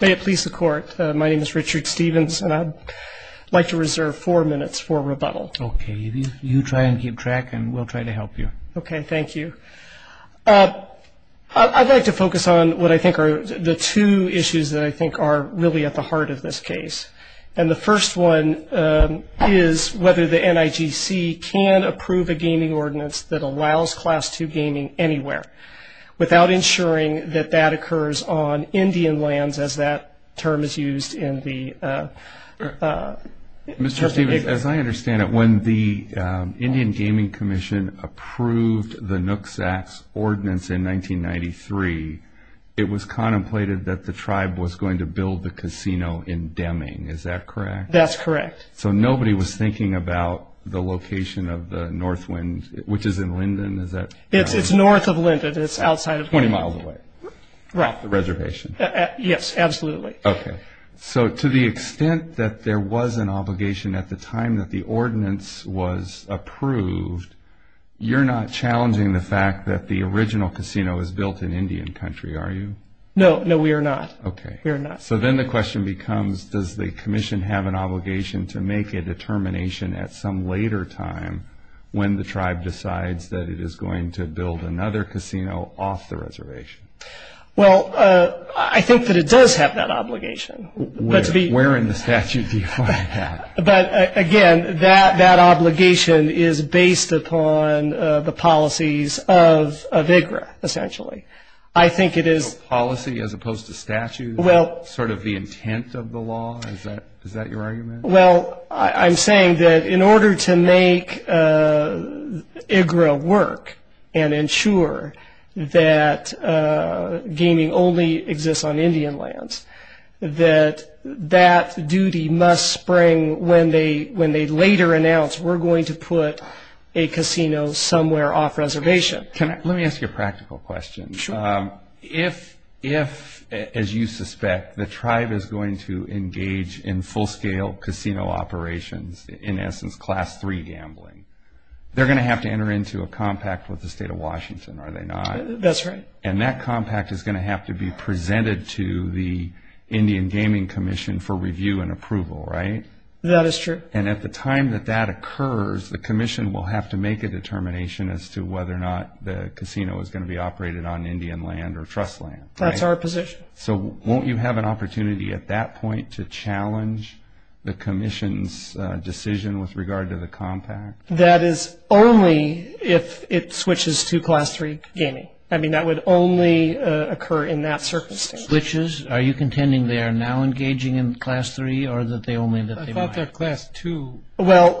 May it please the Court, my name is Richard Stevens and I'd like to reserve four minutes for rebuttal. Okay, you try and keep track and we'll try to help you. Okay, thank you. I'd like to focus on what I think are the two issues that I think are really at the heart of this case. And the first one is whether the NIGC can approve a gaming ordinance that allows Class II gaming anywhere without ensuring that that occurs on Indian lands as that term is used in the... Mr. Stevens, as I understand it, when the Indian Gaming Commission approved the NUCSAC's ordinance in 1993, it was contemplated that the tribe was going to build the casino in Deming, is that correct? That's correct. So nobody was thinking about the location of the Northwind, which is in Linden, is that... It's north of Linden, it's outside of... 20 miles away, off the reservation. Yes, absolutely. Okay, so to the extent that there was an obligation at the time that the ordinance was approved, you're not challenging the fact that the original casino was built in Indian country, are you? No, no we are not. Okay. We are not. So then the question becomes, does the Commission have an obligation to make a determination at some later time when the tribe decides that it is going to build another casino off the reservation? Well, I think that it does have that obligation. Where in the statute do you find that? But, again, that obligation is based upon the policies of IGRA, essentially. I think it is... Policy as opposed to statute? Well... Sort of the intent of the law, is that your argument? Well, I'm saying that in order to make IGRA work and ensure that gaming only exists on Indian lands, that that duty must spring when they later announce, we're going to put a casino somewhere off reservation. Can I... Let me ask you a practical question. Sure. If, as you suspect, the tribe is going to engage in full-scale casino operations, in essence class three gambling, they're going to have to enter into a compact with the state of Washington, are they not? That's right. And that compact is going to have to be presented to the Indian Gaming Commission for review and approval, right? And at the time that that occurs, the commission will have to make a determination as to whether or not the casino is going to be operated on Indian land or trust land. That's our position. So won't you have an opportunity at that point to challenge the commission's decision with regard to the compact? That is only if it switches to class three gaming. I mean, that would only occur in that circumstance. Switches? Are you contending they are now engaging in class three or that they only... I thought they're class two. Well,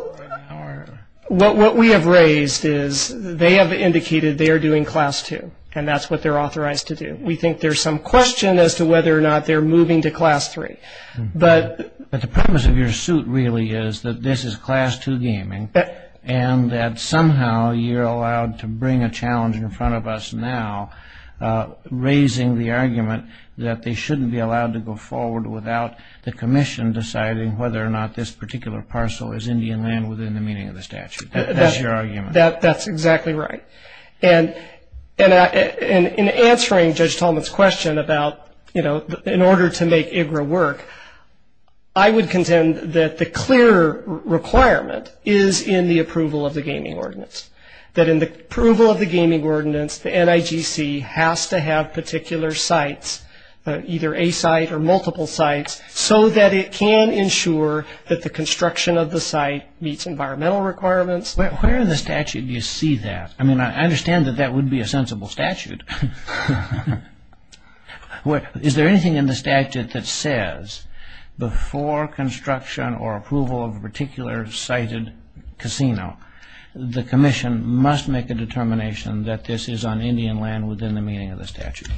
what we have raised is they have indicated they are doing class two, and that's what they're authorized to do. We think there's some question as to whether or not they're moving to class three. But the premise of your suit really is that this is class two gaming, and that somehow you're allowed to bring a challenge in front of us now, raising the argument that they shouldn't be allowed to go forward without the commission deciding whether or not this particular parcel is Indian land within the meaning of the statute. That's your argument. That's exactly right. And in answering Judge Tolman's question about, you know, in order to make IGRA work, I would contend that the clear requirement is in the approval of the gaming ordinance, that in the approval of the gaming ordinance, the NIGC has to have particular sites, either a site or multiple sites, so that it can ensure that the construction of the site meets environmental requirements. Where in the statute do you see that? I mean, I understand that that would be a sensible statute. Is there anything in the statute that says before construction or approval of a particular sited casino, the commission must make a determination that this is on Indian land within the meaning of the statute?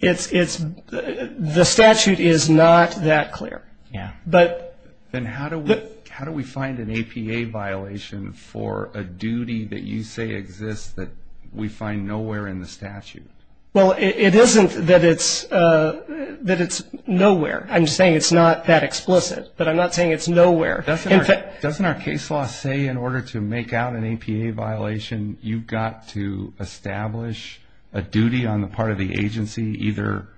The statute is not that clear. Yeah. Then how do we find an APA violation for a duty that you say exists that we find nowhere in the statute? Well, it isn't that it's nowhere. I'm just saying it's not that explicit, but I'm not saying it's nowhere. Doesn't our case law say in order to make out an APA violation, you've got to establish a duty on the part of the agency either,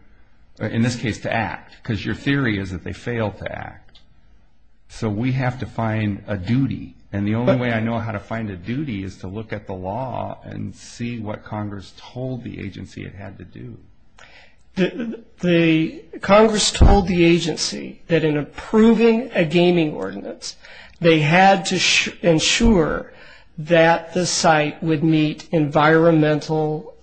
in this case, to act? Because your theory is that they failed to act. So we have to find a duty. And the only way I know how to find a duty is to look at the law and see what Congress told the agency it had to do. The Congress told the agency that in approving a gaming ordinance, they had to ensure that the site would meet environmental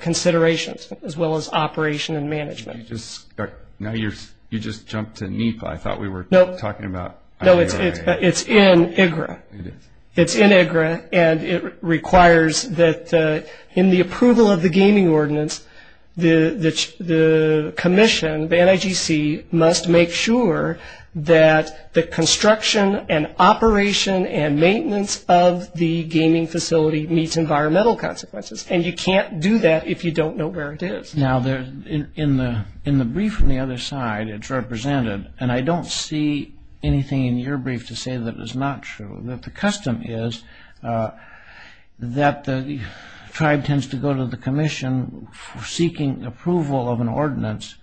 considerations as well as operation and management. Now you just jumped to NEPA. I thought we were talking about IGRA. No, it's in IGRA. It is. In the approval of the gaming ordinance, the commission, the NIGC, must make sure that the construction and operation and maintenance of the gaming facility meets environmental consequences. And you can't do that if you don't know where it is. Now, in the brief on the other side, it's represented, and I don't see anything in your brief to say that it's not true. The custom is that the tribe tends to go to the commission seeking approval of an ordinance,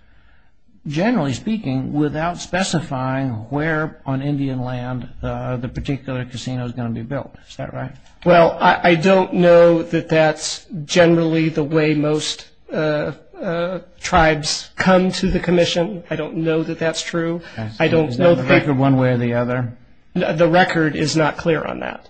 generally speaking, without specifying where on Indian land the particular casino is going to be built. Is that right? Well, I don't know that that's generally the way most tribes come to the commission. I don't know that that's true. Is there a record one way or the other? The record is not clear on that.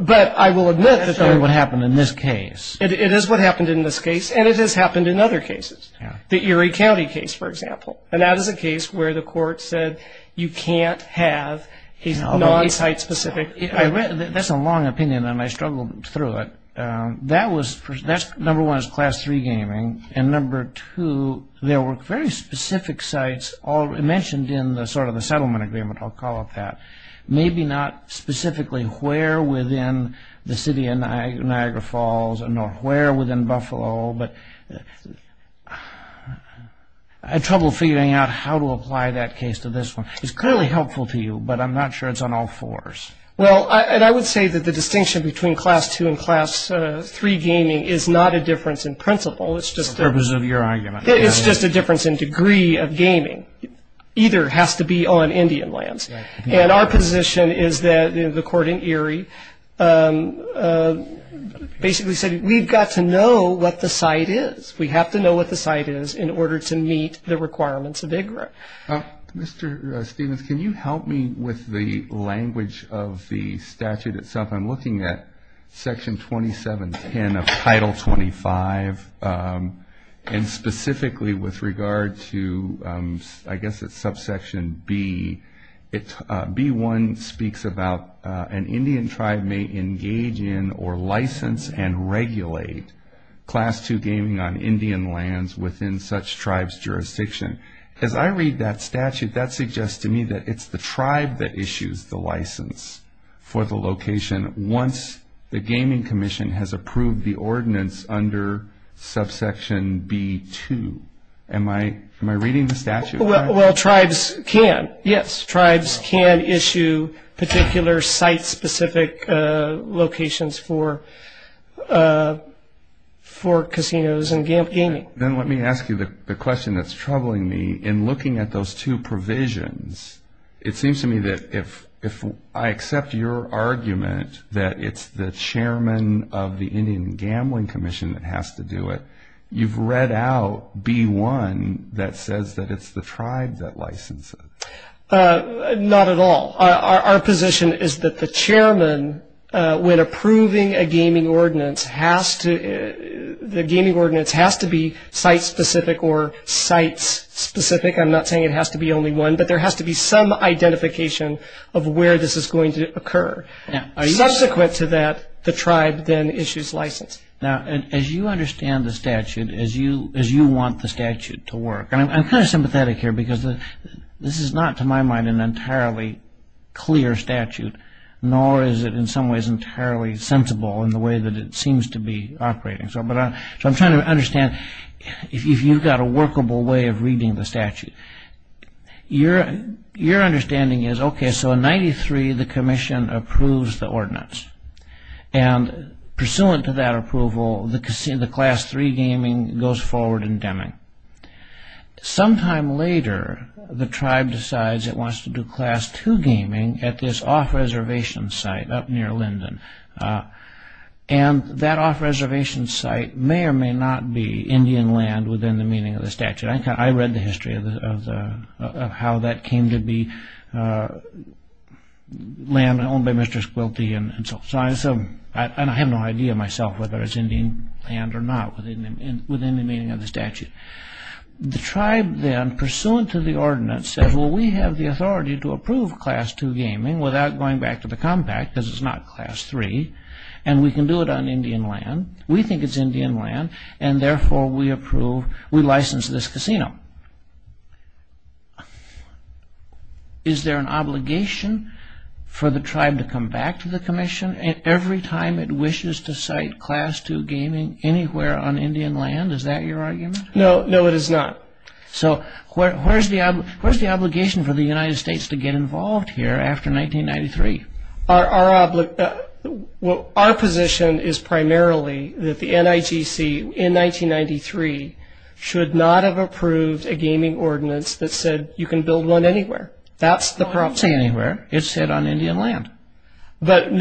But I will admit that there is. That's what happened in this case. It is what happened in this case, and it has happened in other cases. The Erie County case, for example, and that is a case where the court said you can't have a non-site specific. That's a long opinion, and I struggled through it. Number one, it's class three gaming, and number two, there were very specific sites mentioned in the settlement agreement. I'll call it that. Maybe not specifically where within the city of Niagara Falls nor where within Buffalo, but I had trouble figuring out how to apply that case to this one. It's clearly helpful to you, but I'm not sure it's on all fours. Well, and I would say that the distinction between class two and class three gaming is not a difference in principle. It's just a difference in degree of gaming. Either has to be on Indian lands, and our position is that the court in Erie basically said we've got to know what the site is. We have to know what the site is in order to meet the requirements of IGRA. Mr. Stephens, can you help me with the language of the statute itself? I'm looking at Section 2710 of Title 25, and specifically with regard to I guess it's subsection B. B1 speaks about an Indian tribe may engage in or license and regulate class two gaming on Indian lands within such tribe's jurisdiction. As I read that statute, that suggests to me that it's the tribe that issues the license for the location once the gaming commission has approved the ordinance under subsection B.2. Am I reading the statute right? Well, tribes can. Yes, tribes can issue particular site-specific locations for casinos and gaming. Then let me ask you the question that's troubling me. In looking at those two provisions, it seems to me that if I accept your argument that it's the chairman of the Indian Gambling Commission that has to do it, you've read out B.1 that says that it's the tribe that licenses. Not at all. Our position is that the chairman, when approving a gaming ordinance, the gaming ordinance has to be site-specific or sites-specific. I'm not saying it has to be only one, but there has to be some identification of where this is going to occur. Subsequent to that, the tribe then issues license. Now, as you understand the statute, as you want the statute to work, and I'm kind of sympathetic here because this is not to my mind an entirely clear statute, nor is it in some ways entirely sensible in the way that it seems to be operating. So I'm trying to understand if you've got a workable way of reading the statute. Your understanding is, okay, so in 93, the commission approves the ordinance, and pursuant to that approval, the Class 3 gaming goes forward in Deming. Sometime later, the tribe decides it wants to do Class 2 gaming at this off-reservation site up near Linden. And that off-reservation site may or may not be Indian land within the meaning of the statute. I read the history of how that came to be land owned by Mr. Squilty. And I have no idea myself whether it's Indian land or not within the meaning of the statute. The tribe then, pursuant to the ordinance, says, well, we have the authority to approve Class 2 gaming without going back to the compact because it's not Class 3, and we can do it on Indian land. We think it's Indian land, and therefore we approve, we license this casino. Now, is there an obligation for the tribe to come back to the commission every time it wishes to site Class 2 gaming anywhere on Indian land? Is that your argument? No, no, it is not. So where's the obligation for the United States to get involved here after 1993? Our position is primarily that the NIGC, in 1993, should not have approved a gaming ordinance that said you can build one anywhere. That's the problem. I'm not saying anywhere. It said on Indian land. But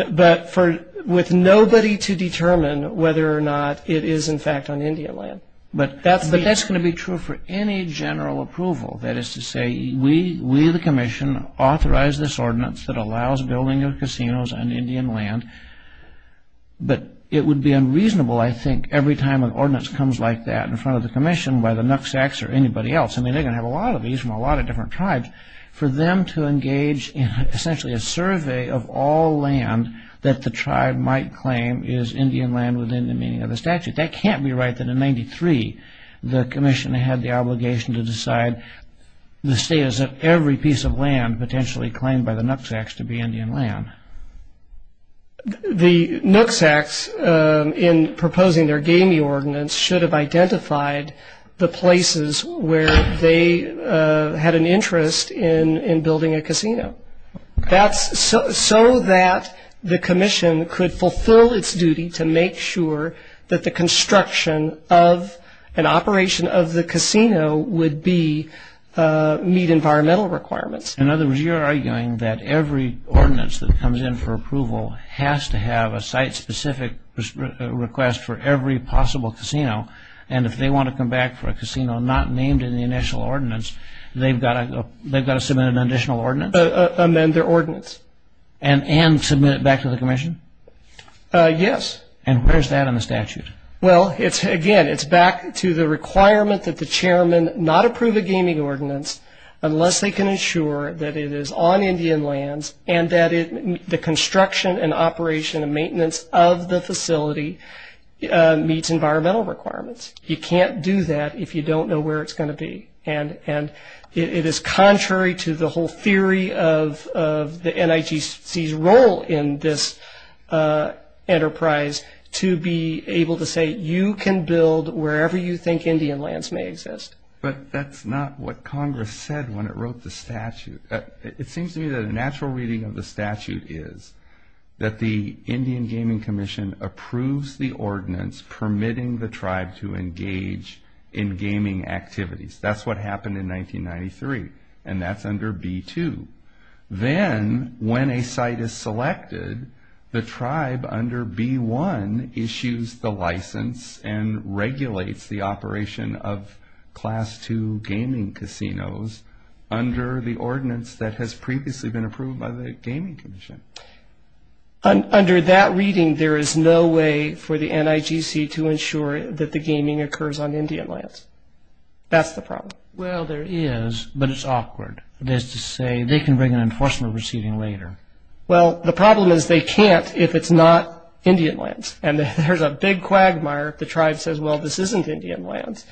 with nobody to determine whether or not it is, in fact, on Indian land. But that's going to be true for any general approval. That is to say, we, the commission, authorize this ordinance that allows building of casinos on Indian land. But it would be unreasonable, I think, every time an ordinance comes like that in front of the commission by the NUCSACs or anybody else. I mean, they're going to have a lot of these from a lot of different tribes. For them to engage in essentially a survey of all land that the tribe might claim is Indian land within the meaning of the statute. That can't be right that in 1993 the commission had the obligation to decide the status of every piece of land potentially claimed by the NUCSACs to be Indian land. The NUCSACs, in proposing their gaming ordinance, should have identified the places where they had an interest in building a casino. That's so that the commission could fulfill its duty to make sure that the construction of an operation of the casino would meet environmental requirements. In other words, you're arguing that every ordinance that comes in for approval has to have a site-specific request for every possible casino. And if they want to come back for a casino not named in the initial ordinance, they've got to submit an additional ordinance? Amend their ordinance. And submit it back to the commission? Yes. And where's that in the statute? Again, it's back to the requirement that the chairman not approve a gaming ordinance unless they can ensure that it is on Indian lands and that the construction and operation and maintenance of the facility meets environmental requirements. You can't do that if you don't know where it's going to be. And it is contrary to the whole theory of the NICC's role in this enterprise to be able to say you can build wherever you think Indian lands may exist. But that's not what Congress said when it wrote the statute. It seems to me that a natural reading of the statute is that the Indian Gaming Commission approves the ordinance permitting the tribe to engage in gaming activities. That's what happened in 1993, and that's under B-2. Then when a site is selected, the tribe under B-1 issues the license and regulates the operation of Class 2 gaming casinos under the ordinance that has previously been approved by the Gaming Commission. Under that reading, there is no way for the NIGC to ensure that the gaming occurs on Indian lands. That's the problem. Well, there is, but it's awkward. That is to say they can bring an enforcement receiving later. Well, the problem is they can't if it's not Indian lands. And there's a big quagmire if the tribe says, well, this isn't Indian lands.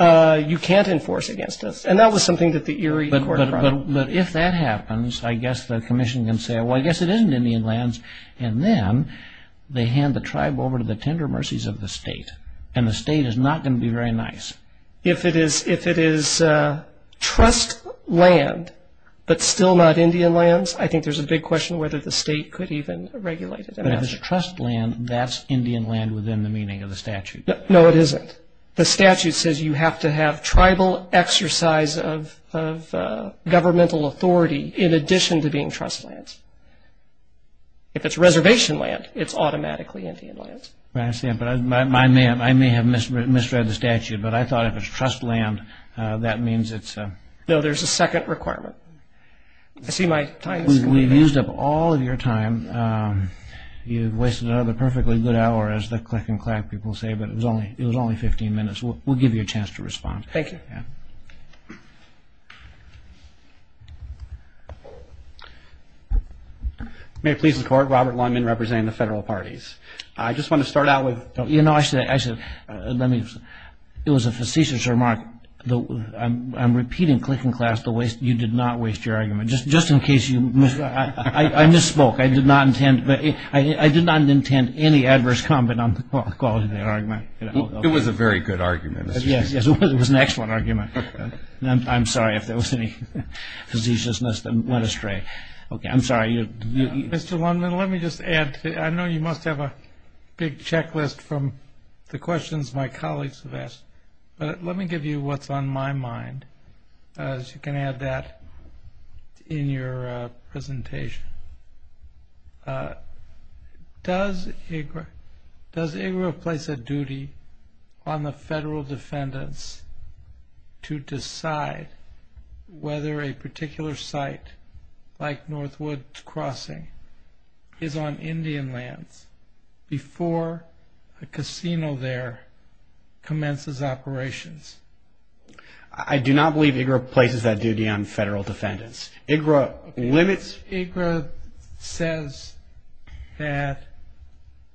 You can't enforce against us. And that was something that the Erie Court brought up. But if that happens, I guess the commission can say, well, I guess it isn't Indian lands. And then they hand the tribe over to the tender mercies of the state, and the state is not going to be very nice. If it is trust land but still not Indian lands, I think there's a big question whether the state could even regulate it. But if it's trust land, that's Indian land within the meaning of the statute. No, it isn't. The statute says you have to have tribal exercise of governmental authority in addition to being trust lands. If it's reservation land, it's automatically Indian lands. I may have misread the statute, but I thought if it's trust land, that means it's a... No, there's a second requirement. We've used up all of your time. You've wasted another perfectly good hour, as the click and clack people say, but it was only 15 minutes. Thank you. May it please the Court. Robert Longman representing the federal parties. I just want to start out with... You know, actually, let me... It was a facetious remark. I'm repeating click and clack the way you did not waste your argument. Just in case you... I misspoke. I did not intend... I did not intend any adverse comment on the quality of that argument. It was a very good argument. Yes, it was an excellent argument. I'm sorry if there was any facetiousness that went astray. Okay, I'm sorry. Mr. Longman, let me just add. I know you must have a big checklist from the questions my colleagues have asked, but let me give you what's on my mind, as you can add that in your presentation. Does IGRA place a duty on the federal defendants to decide whether a particular site, like Northwood Crossing, is on Indian lands before a casino there commences operations? I do not believe IGRA places that duty on federal defendants. IGRA limits... IGRA says that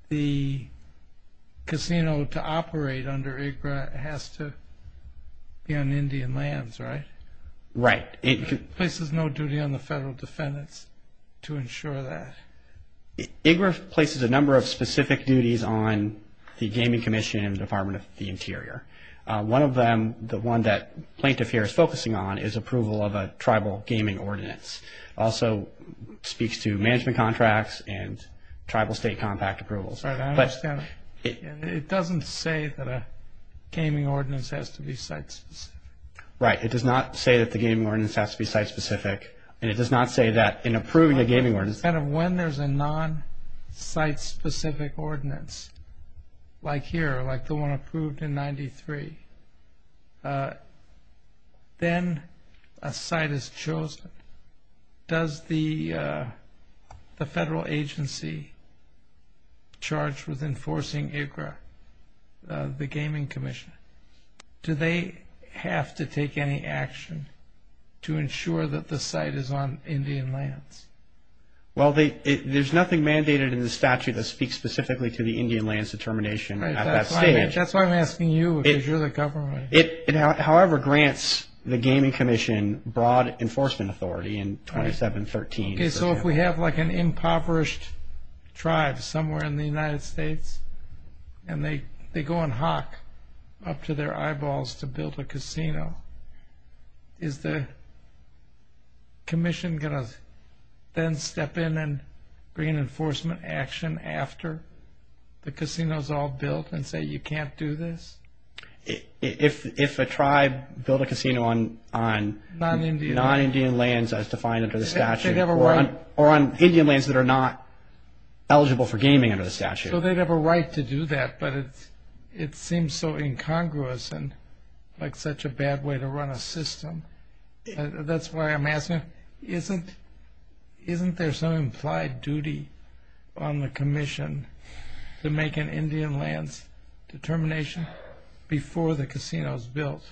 the casino to operate under IGRA has to be on Indian lands, right? Right. It places no duty on the federal defendants to ensure that. IGRA places a number of specific duties on the Gaming Commission and the Department of the Interior. One of them, the one that Plaintiff here is focusing on, is approval of a tribal gaming ordinance. It also speaks to management contracts and tribal state compact approvals. I understand. It doesn't say that a gaming ordinance has to be site-specific. Right. It does not say that the gaming ordinance has to be site-specific, and it does not say that in approving a gaming ordinance... When there's a non-site-specific ordinance, like here, like the one approved in 1993, then a site is chosen. Does the federal agency charged with enforcing IGRA, the Gaming Commission, do they have to take any action to ensure that the site is on Indian lands? Well, there's nothing mandated in the statute that speaks specifically to the Indian lands determination. That's why I'm asking you, because you're the government. It, however, grants the Gaming Commission broad enforcement authority in 2713. Okay, so if we have, like, an impoverished tribe somewhere in the United States, and they go and hawk up to their eyeballs to build a casino, is the commission going to then step in and bring in enforcement action after the casino is all built and say, you can't do this? If a tribe built a casino on non-Indian lands as defined under the statute... So they'd have a right... Or on Indian lands that are not eligible for gaming under the statute. So they'd have a right to do that, but it seems so incongruous and like such a bad way to run a system. That's why I'm asking, isn't there some implied duty on the commission to make an Indian lands determination before the casino is built?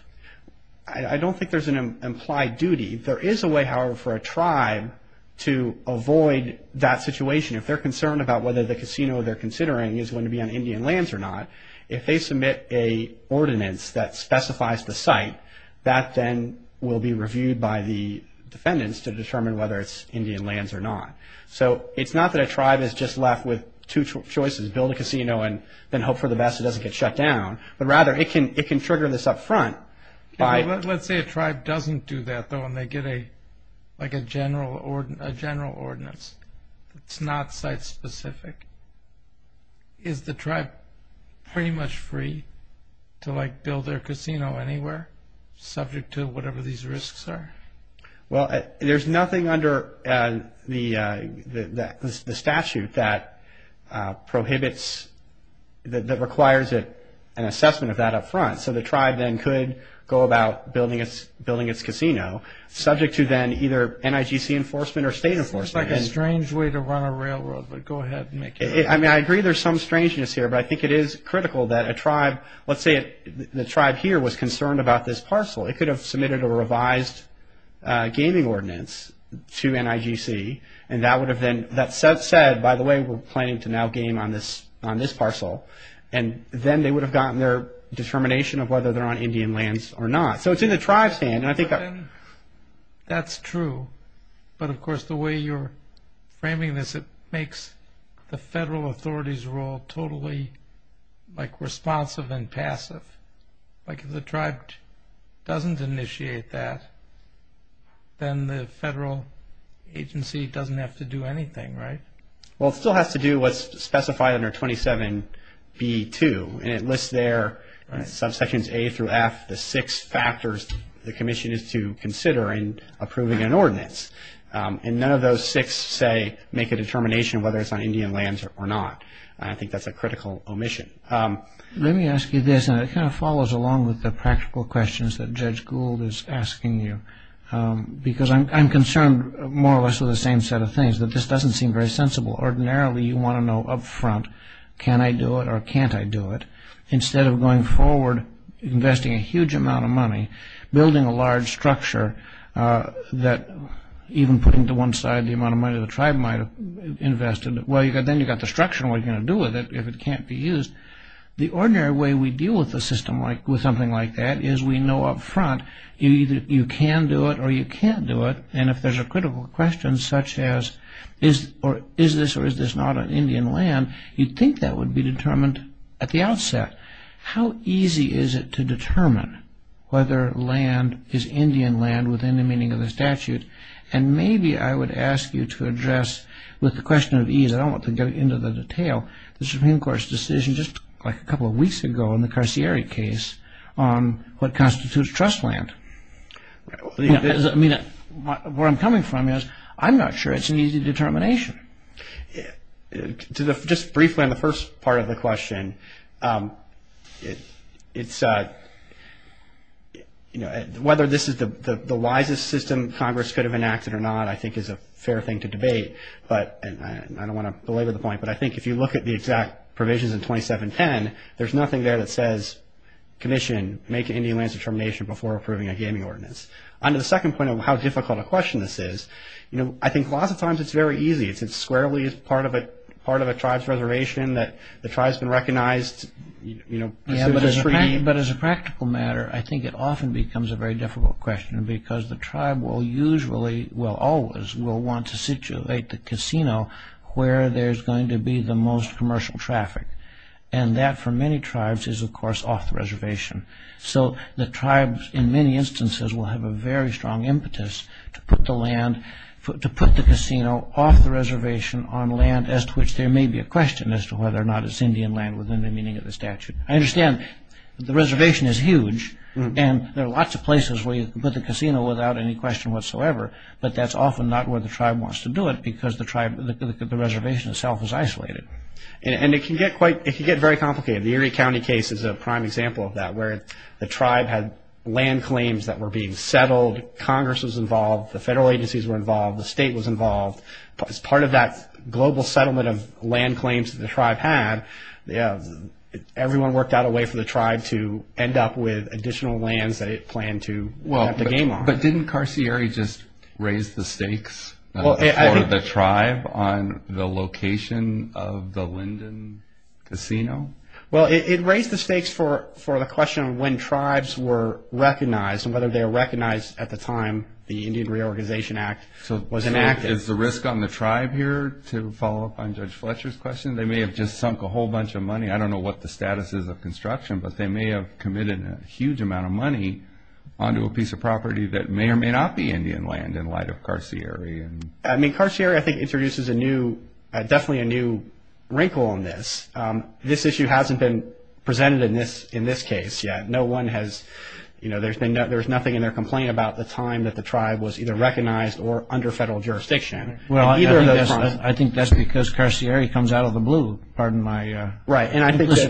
I don't think there's an implied duty. There is a way, however, for a tribe to avoid that situation. If they're concerned about whether the casino they're considering is going to be on Indian lands or not, if they submit a ordinance that specifies the site, that then will be reviewed by the defendants to determine whether it's Indian lands or not. So it's not that a tribe is just left with two choices, build a casino and then hope for the best it doesn't get shut down, but rather it can trigger this up front by... If they get a general ordinance that's not site specific, is the tribe pretty much free to build their casino anywhere subject to whatever these risks are? There's nothing under the statute that prohibits... that requires an assessment of that up front. So the tribe then could go about building its casino subject to then either NIGC enforcement or state enforcement. It seems like a strange way to run a railroad, but go ahead and make your... I mean, I agree there's some strangeness here, but I think it is critical that a tribe... Let's say the tribe here was concerned about this parcel. It could have submitted a revised gaming ordinance to NIGC and that would have then... That said, by the way, we're planning to now game on this parcel, and then they would have gotten their determination of whether they're on Indian lands or not. So it's in the tribe's hand, and I think... That's true, but of course the way you're framing this, it makes the federal authority's role totally responsive and passive. If the tribe doesn't initiate that, then the federal agency doesn't have to do anything, right? Well, it still has to do what's specified under 27B2, and it lists there subsections A through F, the six factors the commission is to consider in approving an ordinance. And none of those six, say, make a determination of whether it's on Indian lands or not. I think that's a critical omission. Let me ask you this, and it kind of follows along with the practical questions that Judge Gould is asking you, because I'm concerned more or less with the same set of things, which is that this doesn't seem very sensible. Ordinarily, you want to know up front, can I do it or can't I do it? Instead of going forward, investing a huge amount of money, building a large structure that, even putting to one side the amount of money the tribe might have invested, well, then you've got the structure, and what are you going to do with it if it can't be used? The ordinary way we deal with the system with something like that is we know up front you can do it or you can't do it, and if there's a critical question such as is this or is this not on Indian land, you'd think that would be determined at the outset. How easy is it to determine whether land is Indian land within the meaning of the statute? And maybe I would ask you to address, with the question of ease, I don't want to get into the detail, the Supreme Court's decision just a couple of weeks ago in the Carcieri case on what constitutes trust land. Where I'm coming from is I'm not sure it's an easy determination. Just briefly on the first part of the question, whether this is the wisest system Congress could have enacted or not, I think is a fair thing to debate, and I don't want to belabor the point, but I think if you look at the exact provisions in 2710, there's nothing there that says commission, make Indian lands determination before approving a gaming ordinance. On the second point of how difficult a question this is, I think lots of times it's very easy. It's squarely part of a tribe's reservation that the tribe's been recognized. But as a practical matter, I think it often becomes a very difficult question because the tribe will usually, well always will want to situate the casino where there's going to be the most commercial traffic, and that for many tribes is of course off the reservation. So the tribes in many instances will have a very strong impetus to put the casino off the reservation on land as to which there may be a question as to whether or not it's Indian land within the meaning of the statute. I understand the reservation is huge, and there are lots of places where you can put the casino without any question whatsoever, but that's often not where the tribe wants to do it because the reservation itself is isolated. And it can get very complicated. The Erie County case is a prime example of that where the tribe had land claims that were being settled. Congress was involved. The federal agencies were involved. The state was involved. As part of that global settlement of land claims that the tribe had, everyone worked out a way for the tribe to end up with additional lands that it planned to have the game on. But didn't Carcieri just raise the stakes for the tribe on the location of the Linden Casino? Well, it raised the stakes for the question of when tribes were recognized and whether they were recognized at the time the Indian Reorganization Act was enacted. So is the risk on the tribe here to follow up on Judge Fletcher's question? They may have just sunk a whole bunch of money. I don't know what the status is of construction, but they may have committed a huge amount of money onto a piece of property that may or may not be Indian land in light of Carcieri. I mean, Carcieri, I think, introduces a new, definitely a new wrinkle in this. This issue hasn't been presented in this case yet. No one has, you know, there's nothing in their complaint about the time that the tribe was either recognized or under federal jurisdiction. Well, I think that's because Carcieri comes out of the blue. Pardon my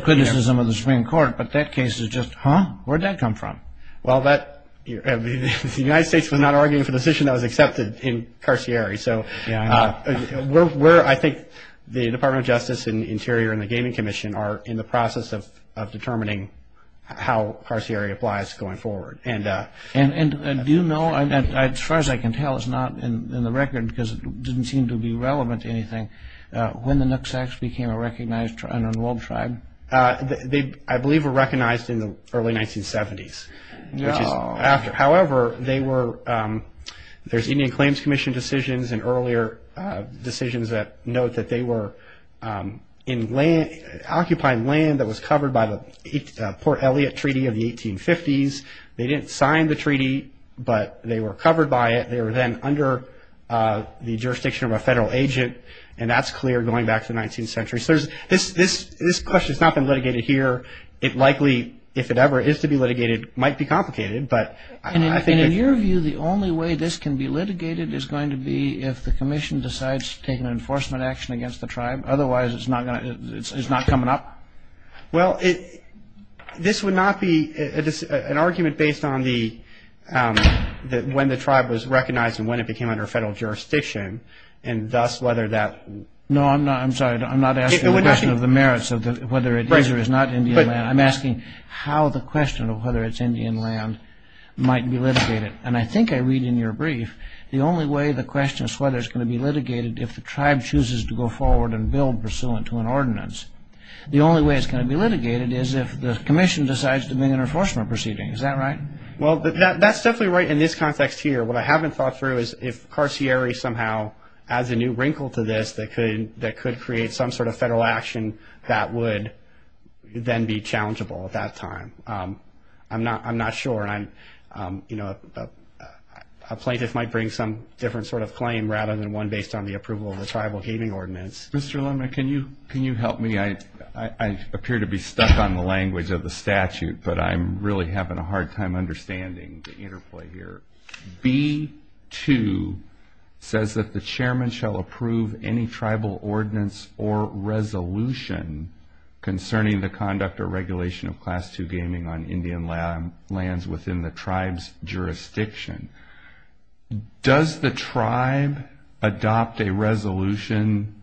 criticism of the Supreme Court, but that case is just, huh, where'd that come from? Well, the United States was not arguing for the decision that was accepted in Carcieri. So we're, I think, the Department of Justice and Interior and the Gaming Commission are in the process of determining how Carcieri applies going forward. And do you know, as far as I can tell, it's not in the record because it didn't seem to be relevant to anything, when the Nooksacks became a recognized and enrolled tribe? They, I believe, were recognized in the early 1970s. No. However, they were, there's Indian Claims Commission decisions and earlier decisions that note that they were occupying land that was covered by the Port Elliott Treaty of the 1850s. They didn't sign the treaty, but they were covered by it. They were then under the jurisdiction of a federal agent. And that's clear going back to the 19th century. So this question has not been litigated here. It likely, if it ever is to be litigated, might be complicated. And in your view, the only way this can be litigated is going to be if the commission decides to take an enforcement action against the tribe. Otherwise, it's not coming up? Well, this would not be an argument based on the, when the tribe was recognized and when it became under federal jurisdiction, and thus whether that. No, I'm sorry. I'm not asking the question of the merits of whether it is or is not Indian land. I'm asking how the question of whether it's Indian land might be litigated. And I think I read in your brief, the only way the question is whether it's going to be litigated if the tribe chooses to go forward and build pursuant to an ordinance. The only way it's going to be litigated is if the commission decides to bring an enforcement proceeding. Is that right? Well, that's definitely right in this context here. What I haven't thought through is if Carcieri somehow adds a new wrinkle to this that could create some sort of federal action that would then be challengeable at that time. I'm not sure. You know, a plaintiff might bring some different sort of claim rather than one based on the approval of the tribal gaming ordinance. Mr. Lumna, can you help me? I appear to be stuck on the language of the statute, but I'm really having a hard time understanding the interplay here. B2 says that the chairman shall approve any tribal ordinance or resolution concerning the conduct or regulation of Class II gaming on Indian lands within the tribe's jurisdiction. Does the tribe adopt a resolution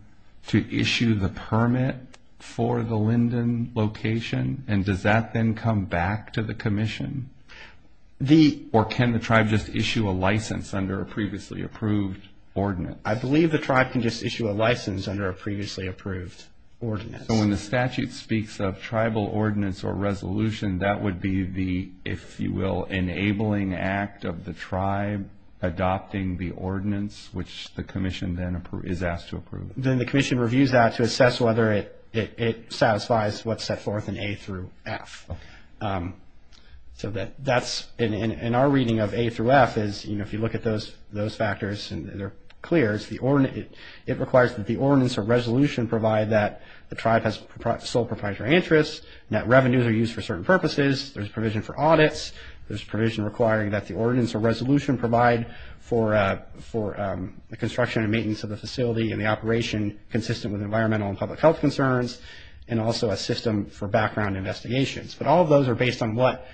to issue the permit for the Linden location, and does that then come back to the commission? Or can the tribe just issue a license under a previously approved ordinance? I believe the tribe can just issue a license under a previously approved ordinance. So when the statute speaks of tribal ordinance or resolution, that would be the, if you will, enabling act of the tribe adopting the ordinance, which the commission then is asked to approve? Then the commission reviews that to assess whether it satisfies what's set forth in A through F. In our reading of A through F, if you look at those factors, they're clear. It requires that the ordinance or resolution provide that the tribe has sole proprietary interests, that revenues are used for certain purposes, there's provision for audits, there's provision requiring that the ordinance or resolution provide for the construction and maintenance of the facility and the operation consistent with environmental and public health concerns, and also a system for background investigations. But all of those are based on what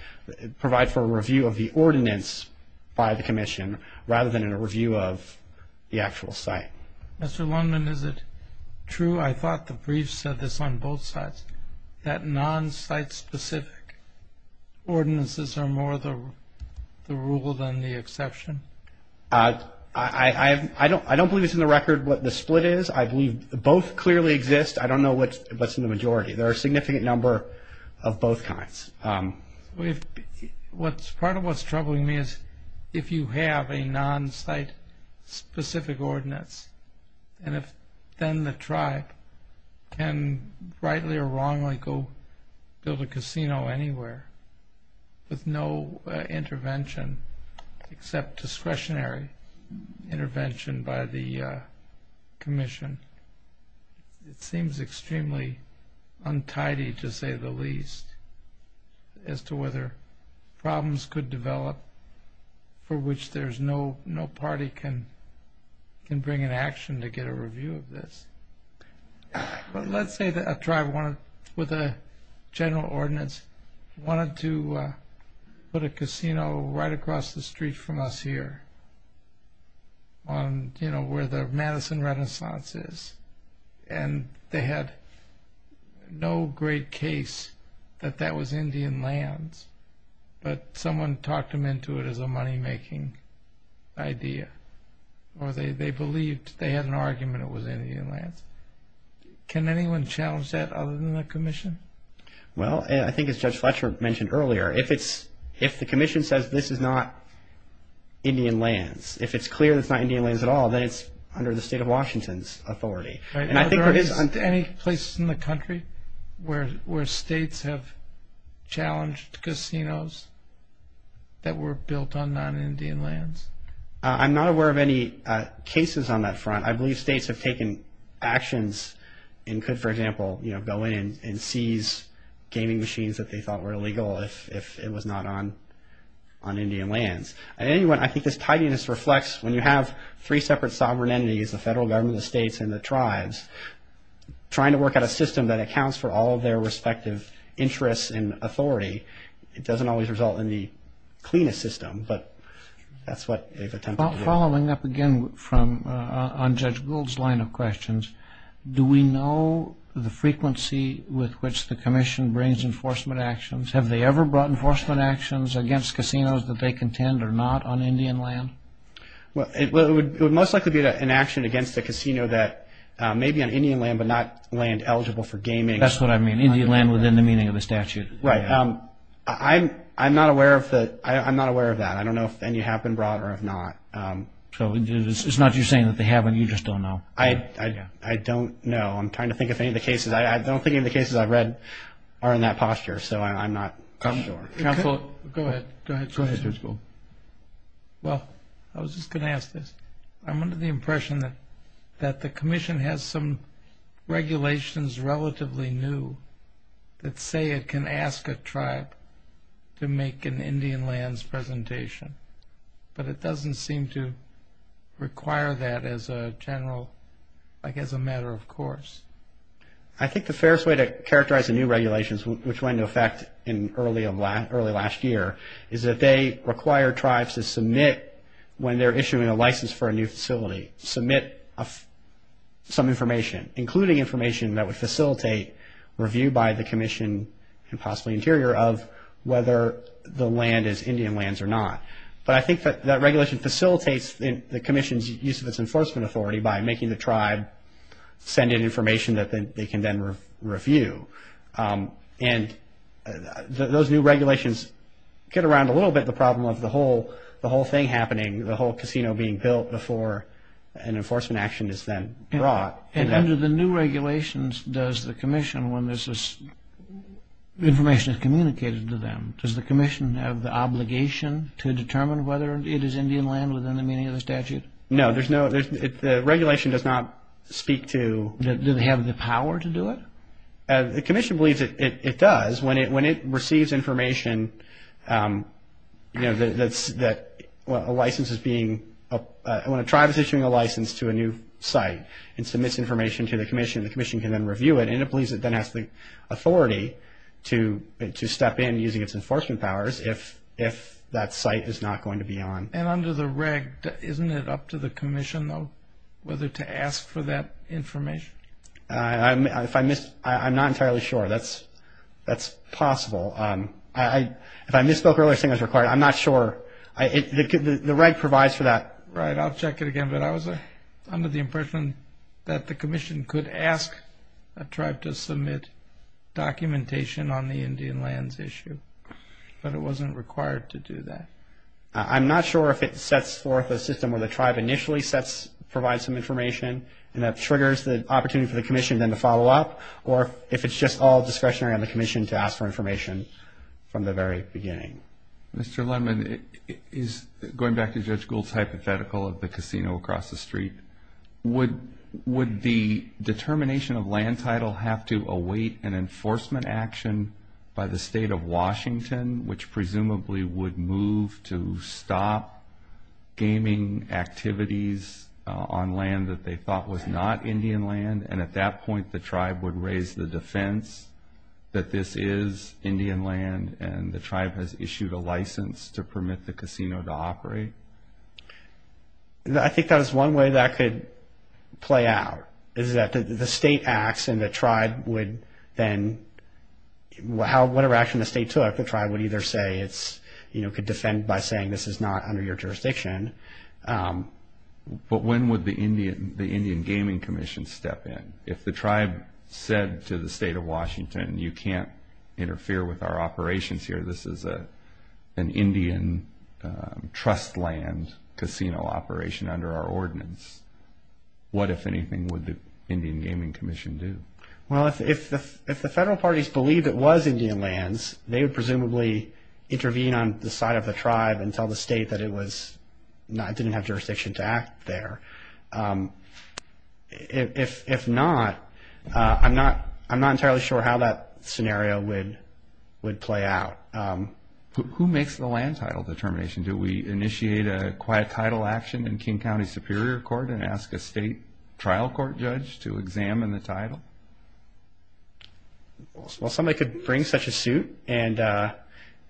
provide for a review of the ordinance by the commission, rather than a review of the actual site. Mr. Linden, is it true, I thought the brief said this on both sides, that non-site specific ordinances are more the rule than the exception? I don't believe it's in the record what the split is. I believe both clearly exist. I don't know what's in the majority. There are a significant number of both kinds. Part of what's troubling me is if you have a non-site specific ordinance, and if then the tribe can rightly or wrongly go build a casino anywhere with no intervention except discretionary intervention by the commission, it seems extremely untidy to say the least as to whether problems could develop for which there's no party can bring an action to get a review of this. But let's say that a tribe with a general ordinance wanted to put a casino right across the street from us here where the Madison Renaissance is, and they had no great case that that was Indian lands, but someone talked them into it as a money-making idea, or they believed they had an argument it was Indian lands. Can anyone challenge that other than the commission? Well, I think as Judge Fletcher mentioned earlier, if the commission says this is not Indian lands, if it's clear it's not Indian lands at all, then it's under the state of Washington's authority. Are there any places in the country where states have challenged casinos that were built on non-Indian lands? I'm not aware of any cases on that front. I believe states have taken actions and could, for example, go in and seize gaming machines that they thought were illegal if it was not on Indian lands. Anyway, I think this tidiness reflects, when you have three separate sovereign entities, the federal government, the states, and the tribes, trying to work out a system that accounts for all their respective interests and authority, it doesn't always result in the cleanest system, but that's what they've attempted to do. Following up again on Judge Gould's line of questions, do we know the frequency with which the commission brings enforcement actions? Have they ever brought enforcement actions against casinos that they contend are not on Indian land? Well, it would most likely be an action against a casino that may be on Indian land but not land eligible for gaming. That's what I mean, Indian land within the meaning of the statute. Right. I'm not aware of that. I don't know if any have been brought or if not. So it's not you saying that they haven't, you just don't know? I don't know. I'm trying to think of any of the cases. I don't think any of the cases I've read are in that posture, so I'm not sure. Counsel, go ahead. Go ahead, Judge Gould. Well, I was just going to ask this. I'm under the impression that the commission has some regulations relatively new that say it can ask a tribe to make an Indian lands presentation, but it doesn't seem to require that as a general, I guess, a matter of course. I think the fairest way to characterize the new regulations, which went into effect early last year, is that they require tribes to submit when they're issuing a license for a new facility, submit some information, including information that would facilitate review by the commission and possibly interior of whether the land is Indian lands or not. But I think that that regulation facilitates the commission's use of its enforcement authority by making the tribe send in information that they can then review. And those new regulations get around a little bit the problem of the whole thing happening, the whole casino being built before an enforcement action is then brought. And under the new regulations, does the commission, when this information is communicated to them, does the commission have the obligation to determine whether it is Indian land within the meaning of the statute? No. The regulation does not speak to – Do they have the power to do it? The commission believes it does. When it receives information that a license is being – when a tribe is issuing a license to a new site and submits information to the commission, the commission can then review it, and it believes it then has the authority to step in using its enforcement powers if that site is not going to be on. And under the reg, isn't it up to the commission, though, whether to ask for that information? If I missed – I'm not entirely sure. That's possible. If I misspoke earlier saying it's required, I'm not sure. The reg provides for that. Right. I'll check it again. But I was under the impression that the commission could ask a tribe to submit documentation on the Indian lands issue, but it wasn't required to do that. I'm not sure if it sets forth a system where the tribe initially provides some information and that triggers the opportunity for the commission then to follow up, or if it's just all discretionary on the commission to ask for information from the very beginning. Mr. Lemon, going back to Judge Gould's hypothetical of the casino across the street, would the determination of land title have to await an enforcement action by the state of Washington, which presumably would move to stop gaming activities on land that they thought was not Indian land, and at that point the tribe would raise the defense that this is Indian land and the tribe has issued a license to permit the casino to operate? I think that is one way that could play out, is that the state acts and the tribe would then – whatever action the state took, the tribe would either say it's – could defend by saying this is not under your jurisdiction. But when would the Indian Gaming Commission step in? If the tribe said to the state of Washington, you can't interfere with our operations here, this is an Indian trust land casino operation under our ordinance, what, if anything, would the Indian Gaming Commission do? Well, if the federal parties believed it was Indian lands, they would presumably intervene on the side of the tribe and tell the state that it was – didn't have jurisdiction to act there. If not, I'm not entirely sure how that scenario would play out. Who makes the land title determination? Do we initiate a quiet title action in King County Superior Court and ask a state trial court judge to examine the title? Well, somebody could bring such a suit and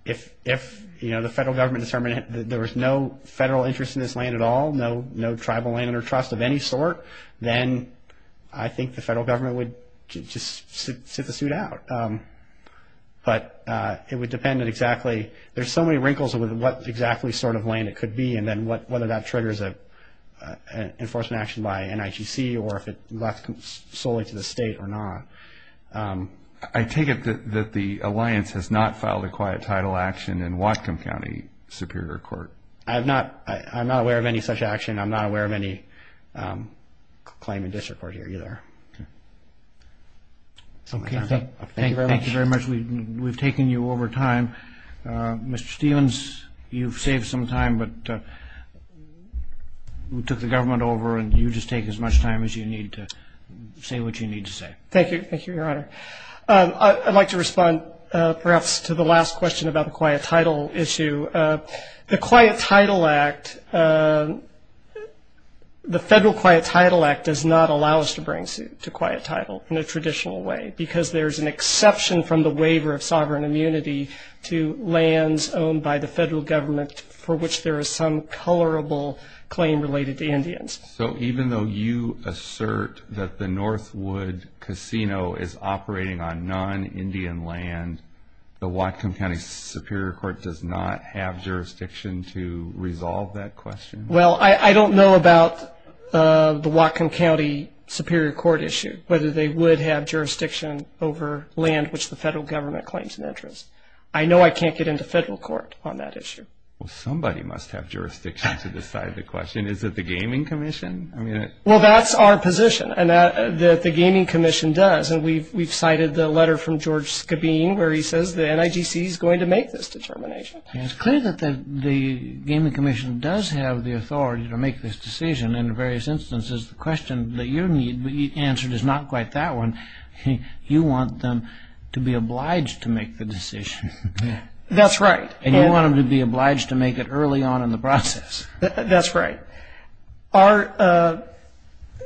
if the federal government determined that there was no federal interest in this land at all, no tribal land under trust of any sort, then I think the federal government would just sit the suit out. But it would depend on exactly – there's so many wrinkles with what exactly sort of land it could be and then whether that triggers an enforcement action by NIGC or if it left solely to the state or not. I take it that the alliance has not filed a quiet title action in Whatcom County Superior Court. I have not – I'm not aware of any such action. I'm not aware of any claim in district court here either. Thank you very much. Thank you very much. We've taken you over time. Mr. Stephens, you've saved some time, but we took the government over and you just take as much time as you need to say what you need to say. Thank you. Thank you, Your Honor. I'd like to respond perhaps to the last question about the quiet title issue. The Quiet Title Act – the federal Quiet Title Act does not allow us to bring suit to quiet title in a traditional way because there's an exception from the waiver of sovereign immunity to lands owned by the federal government for which there is some colorable claim related to Indians. So even though you assert that the Northwood Casino is operating on non-Indian land, the Whatcom County Superior Court does not have jurisdiction to resolve that question? Well, I don't know about the Whatcom County Superior Court issue, whether they would have jurisdiction over land which the federal government claims an interest. I know I can't get into federal court on that issue. Well, somebody must have jurisdiction to decide the question. Is it the Gaming Commission? Well, that's our position, and the Gaming Commission does. We've cited the letter from George Skabeen where he says the NIGC is going to make this determination. It's clear that the Gaming Commission does have the authority to make this decision in various instances. The question that you need answered is not quite that one. You want them to be obliged to make the decision. That's right. And you want them to be obliged to make it early on in the process. That's right.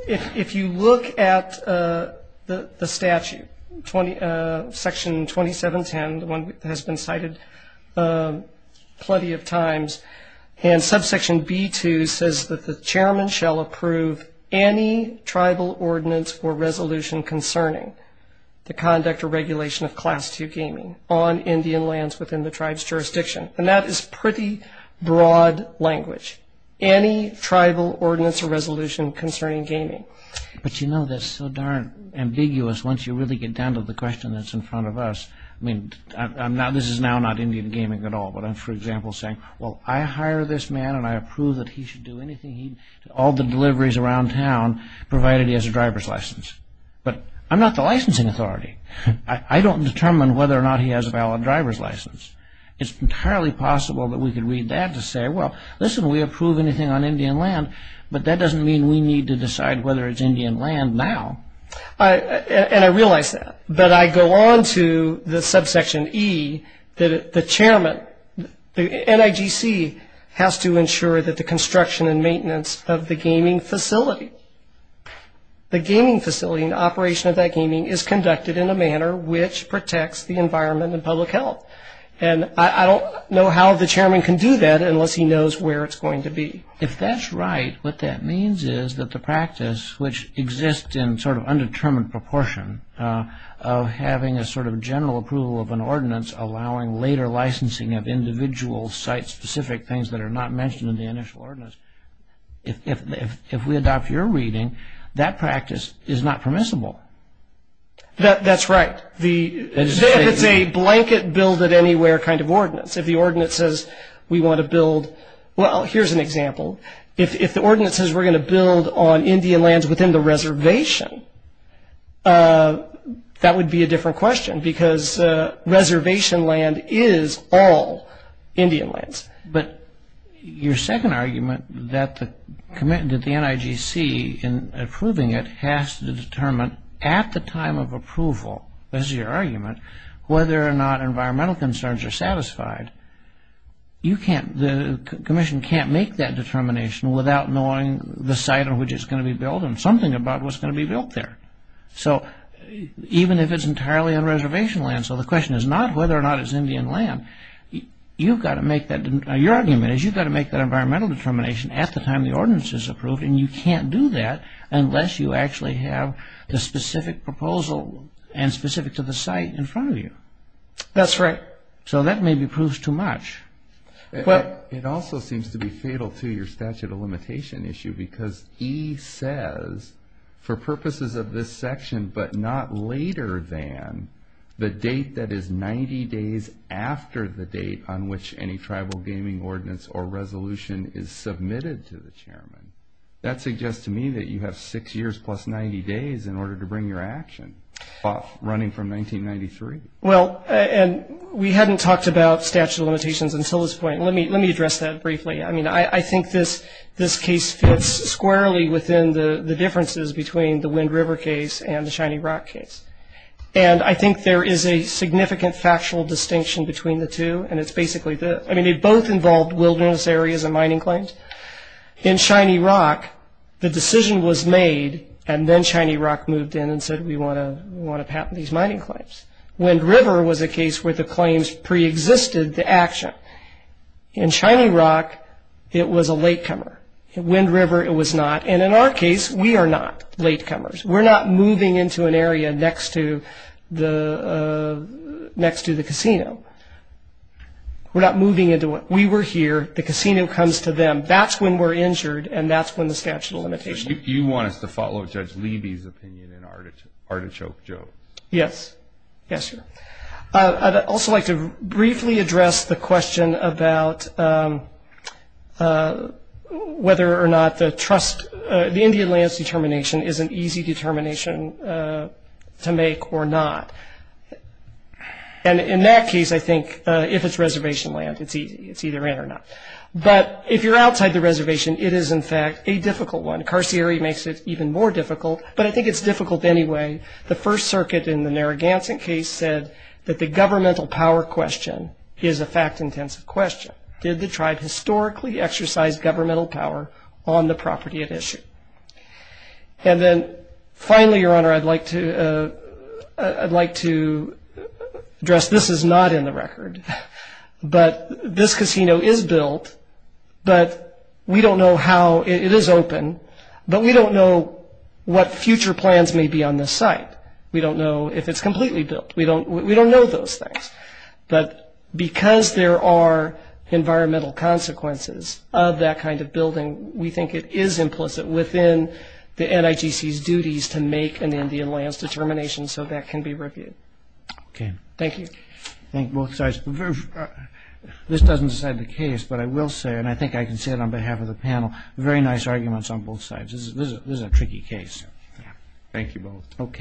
If you look at the statute, Section 2710, the one that has been cited plenty of times, and subsection B2 says that the chairman shall approve any tribal ordinance or resolution concerning the conduct or regulation of Class II gaming on Indian lands within the tribe's jurisdiction. And that is pretty broad language. Any tribal ordinance or resolution concerning gaming. But you know, that's so darn ambiguous once you really get down to the question that's in front of us. I mean, this is now not Indian gaming at all, but I'm, for example, saying, well, I hire this man and I approve that he should do anything, all the deliveries around town, provided he has a driver's license. But I'm not the licensing authority. I don't determine whether or not he has a valid driver's license. It's entirely possible that we could read that to say, well, listen, we approve anything on Indian land, but that doesn't mean we need to decide whether it's Indian land now. And I realize that. But I go on to the subsection E that the chairman, the NIGC, has to ensure that the construction and maintenance of the gaming facility, the gaming facility and operation of that gaming is conducted in a manner which protects the environment and public health. And I don't know how the chairman can do that unless he knows where it's going to be. If that's right, what that means is that the practice, which exists in sort of undetermined proportion of having a sort of general approval of an ordinance, allowing later licensing of individual site-specific things that are not mentioned in the initial ordinance, if we adopt your reading, that practice is not permissible. That's right. If it's a blanket build-it-anywhere kind of ordinance, if the ordinance says we want to build, well, here's an example. If the ordinance says we're going to build on Indian lands within the reservation, that would be a different question because reservation land is all Indian lands. But your second argument that the NIGC, in approving it, has to determine at the time of approval, this is your argument, whether or not environmental concerns are satisfied, the commission can't make that determination without knowing the site on which it's going to be built and something about what's going to be built there. So even if it's entirely on reservation land, so the question is not whether or not it's Indian land. Your argument is you've got to make that environmental determination at the time the ordinance is approved, and you can't do that unless you actually have the specific proposal and specific to the site in front of you. That's right. So that maybe proves too much. It also seems to be fatal to your statute of limitation issue because E says, for purposes of this section but not later than the date that is 90 days after the date on which any tribal gaming ordinance or resolution is submitted to the chairman. That suggests to me that you have six years plus 90 days in order to bring your action, running from 1993. Well, and we hadn't talked about statute of limitations until this point. Let me address that briefly. I mean, I think this case fits squarely within the differences between the Wind River case and the Shiny Rock case, and I think there is a significant factual distinction between the two, and it's basically the – I mean, they both involved wilderness areas and mining claims. In Shiny Rock, the decision was made, and then Shiny Rock moved in and said, we want to patent these mining claims. Wind River was a case where the claims preexisted the action. In Shiny Rock, it was a latecomer. In Wind River, it was not. And in our case, we are not latecomers. We're not moving into an area next to the casino. We're not moving into it. We were here. The casino comes to them. That's when we're injured, and that's when the statute of limitations. So you want us to follow Judge Leiby's opinion in Artichoke Joe? Yes. Yes, sir. I'd also like to briefly address the question about whether or not the trust – the Indian lands determination is an easy determination to make or not. And in that case, I think if it's reservation land, it's easy. It's either in or not. But if you're outside the reservation, it is, in fact, a difficult one. Carcieri makes it even more difficult, but I think it's difficult anyway. The First Circuit in the Narragansett case said that the governmental power question is a fact-intensive question. Did the tribe historically exercise governmental power on the property at issue? And then finally, Your Honor, I'd like to address this is not in the record. But this casino is built, but we don't know how it is open, but we don't know what future plans may be on this site. We don't know if it's completely built. We don't know those things. But because there are environmental consequences of that kind of building, we think it is implicit within the NIGC's duties to make an Indian lands determination so that can be reviewed. Okay. Thank you. Thank you, both sides. This doesn't decide the case, but I will say, and I think I can say it on behalf of the panel, very nice arguments on both sides. This is a tricky case. Thank you both.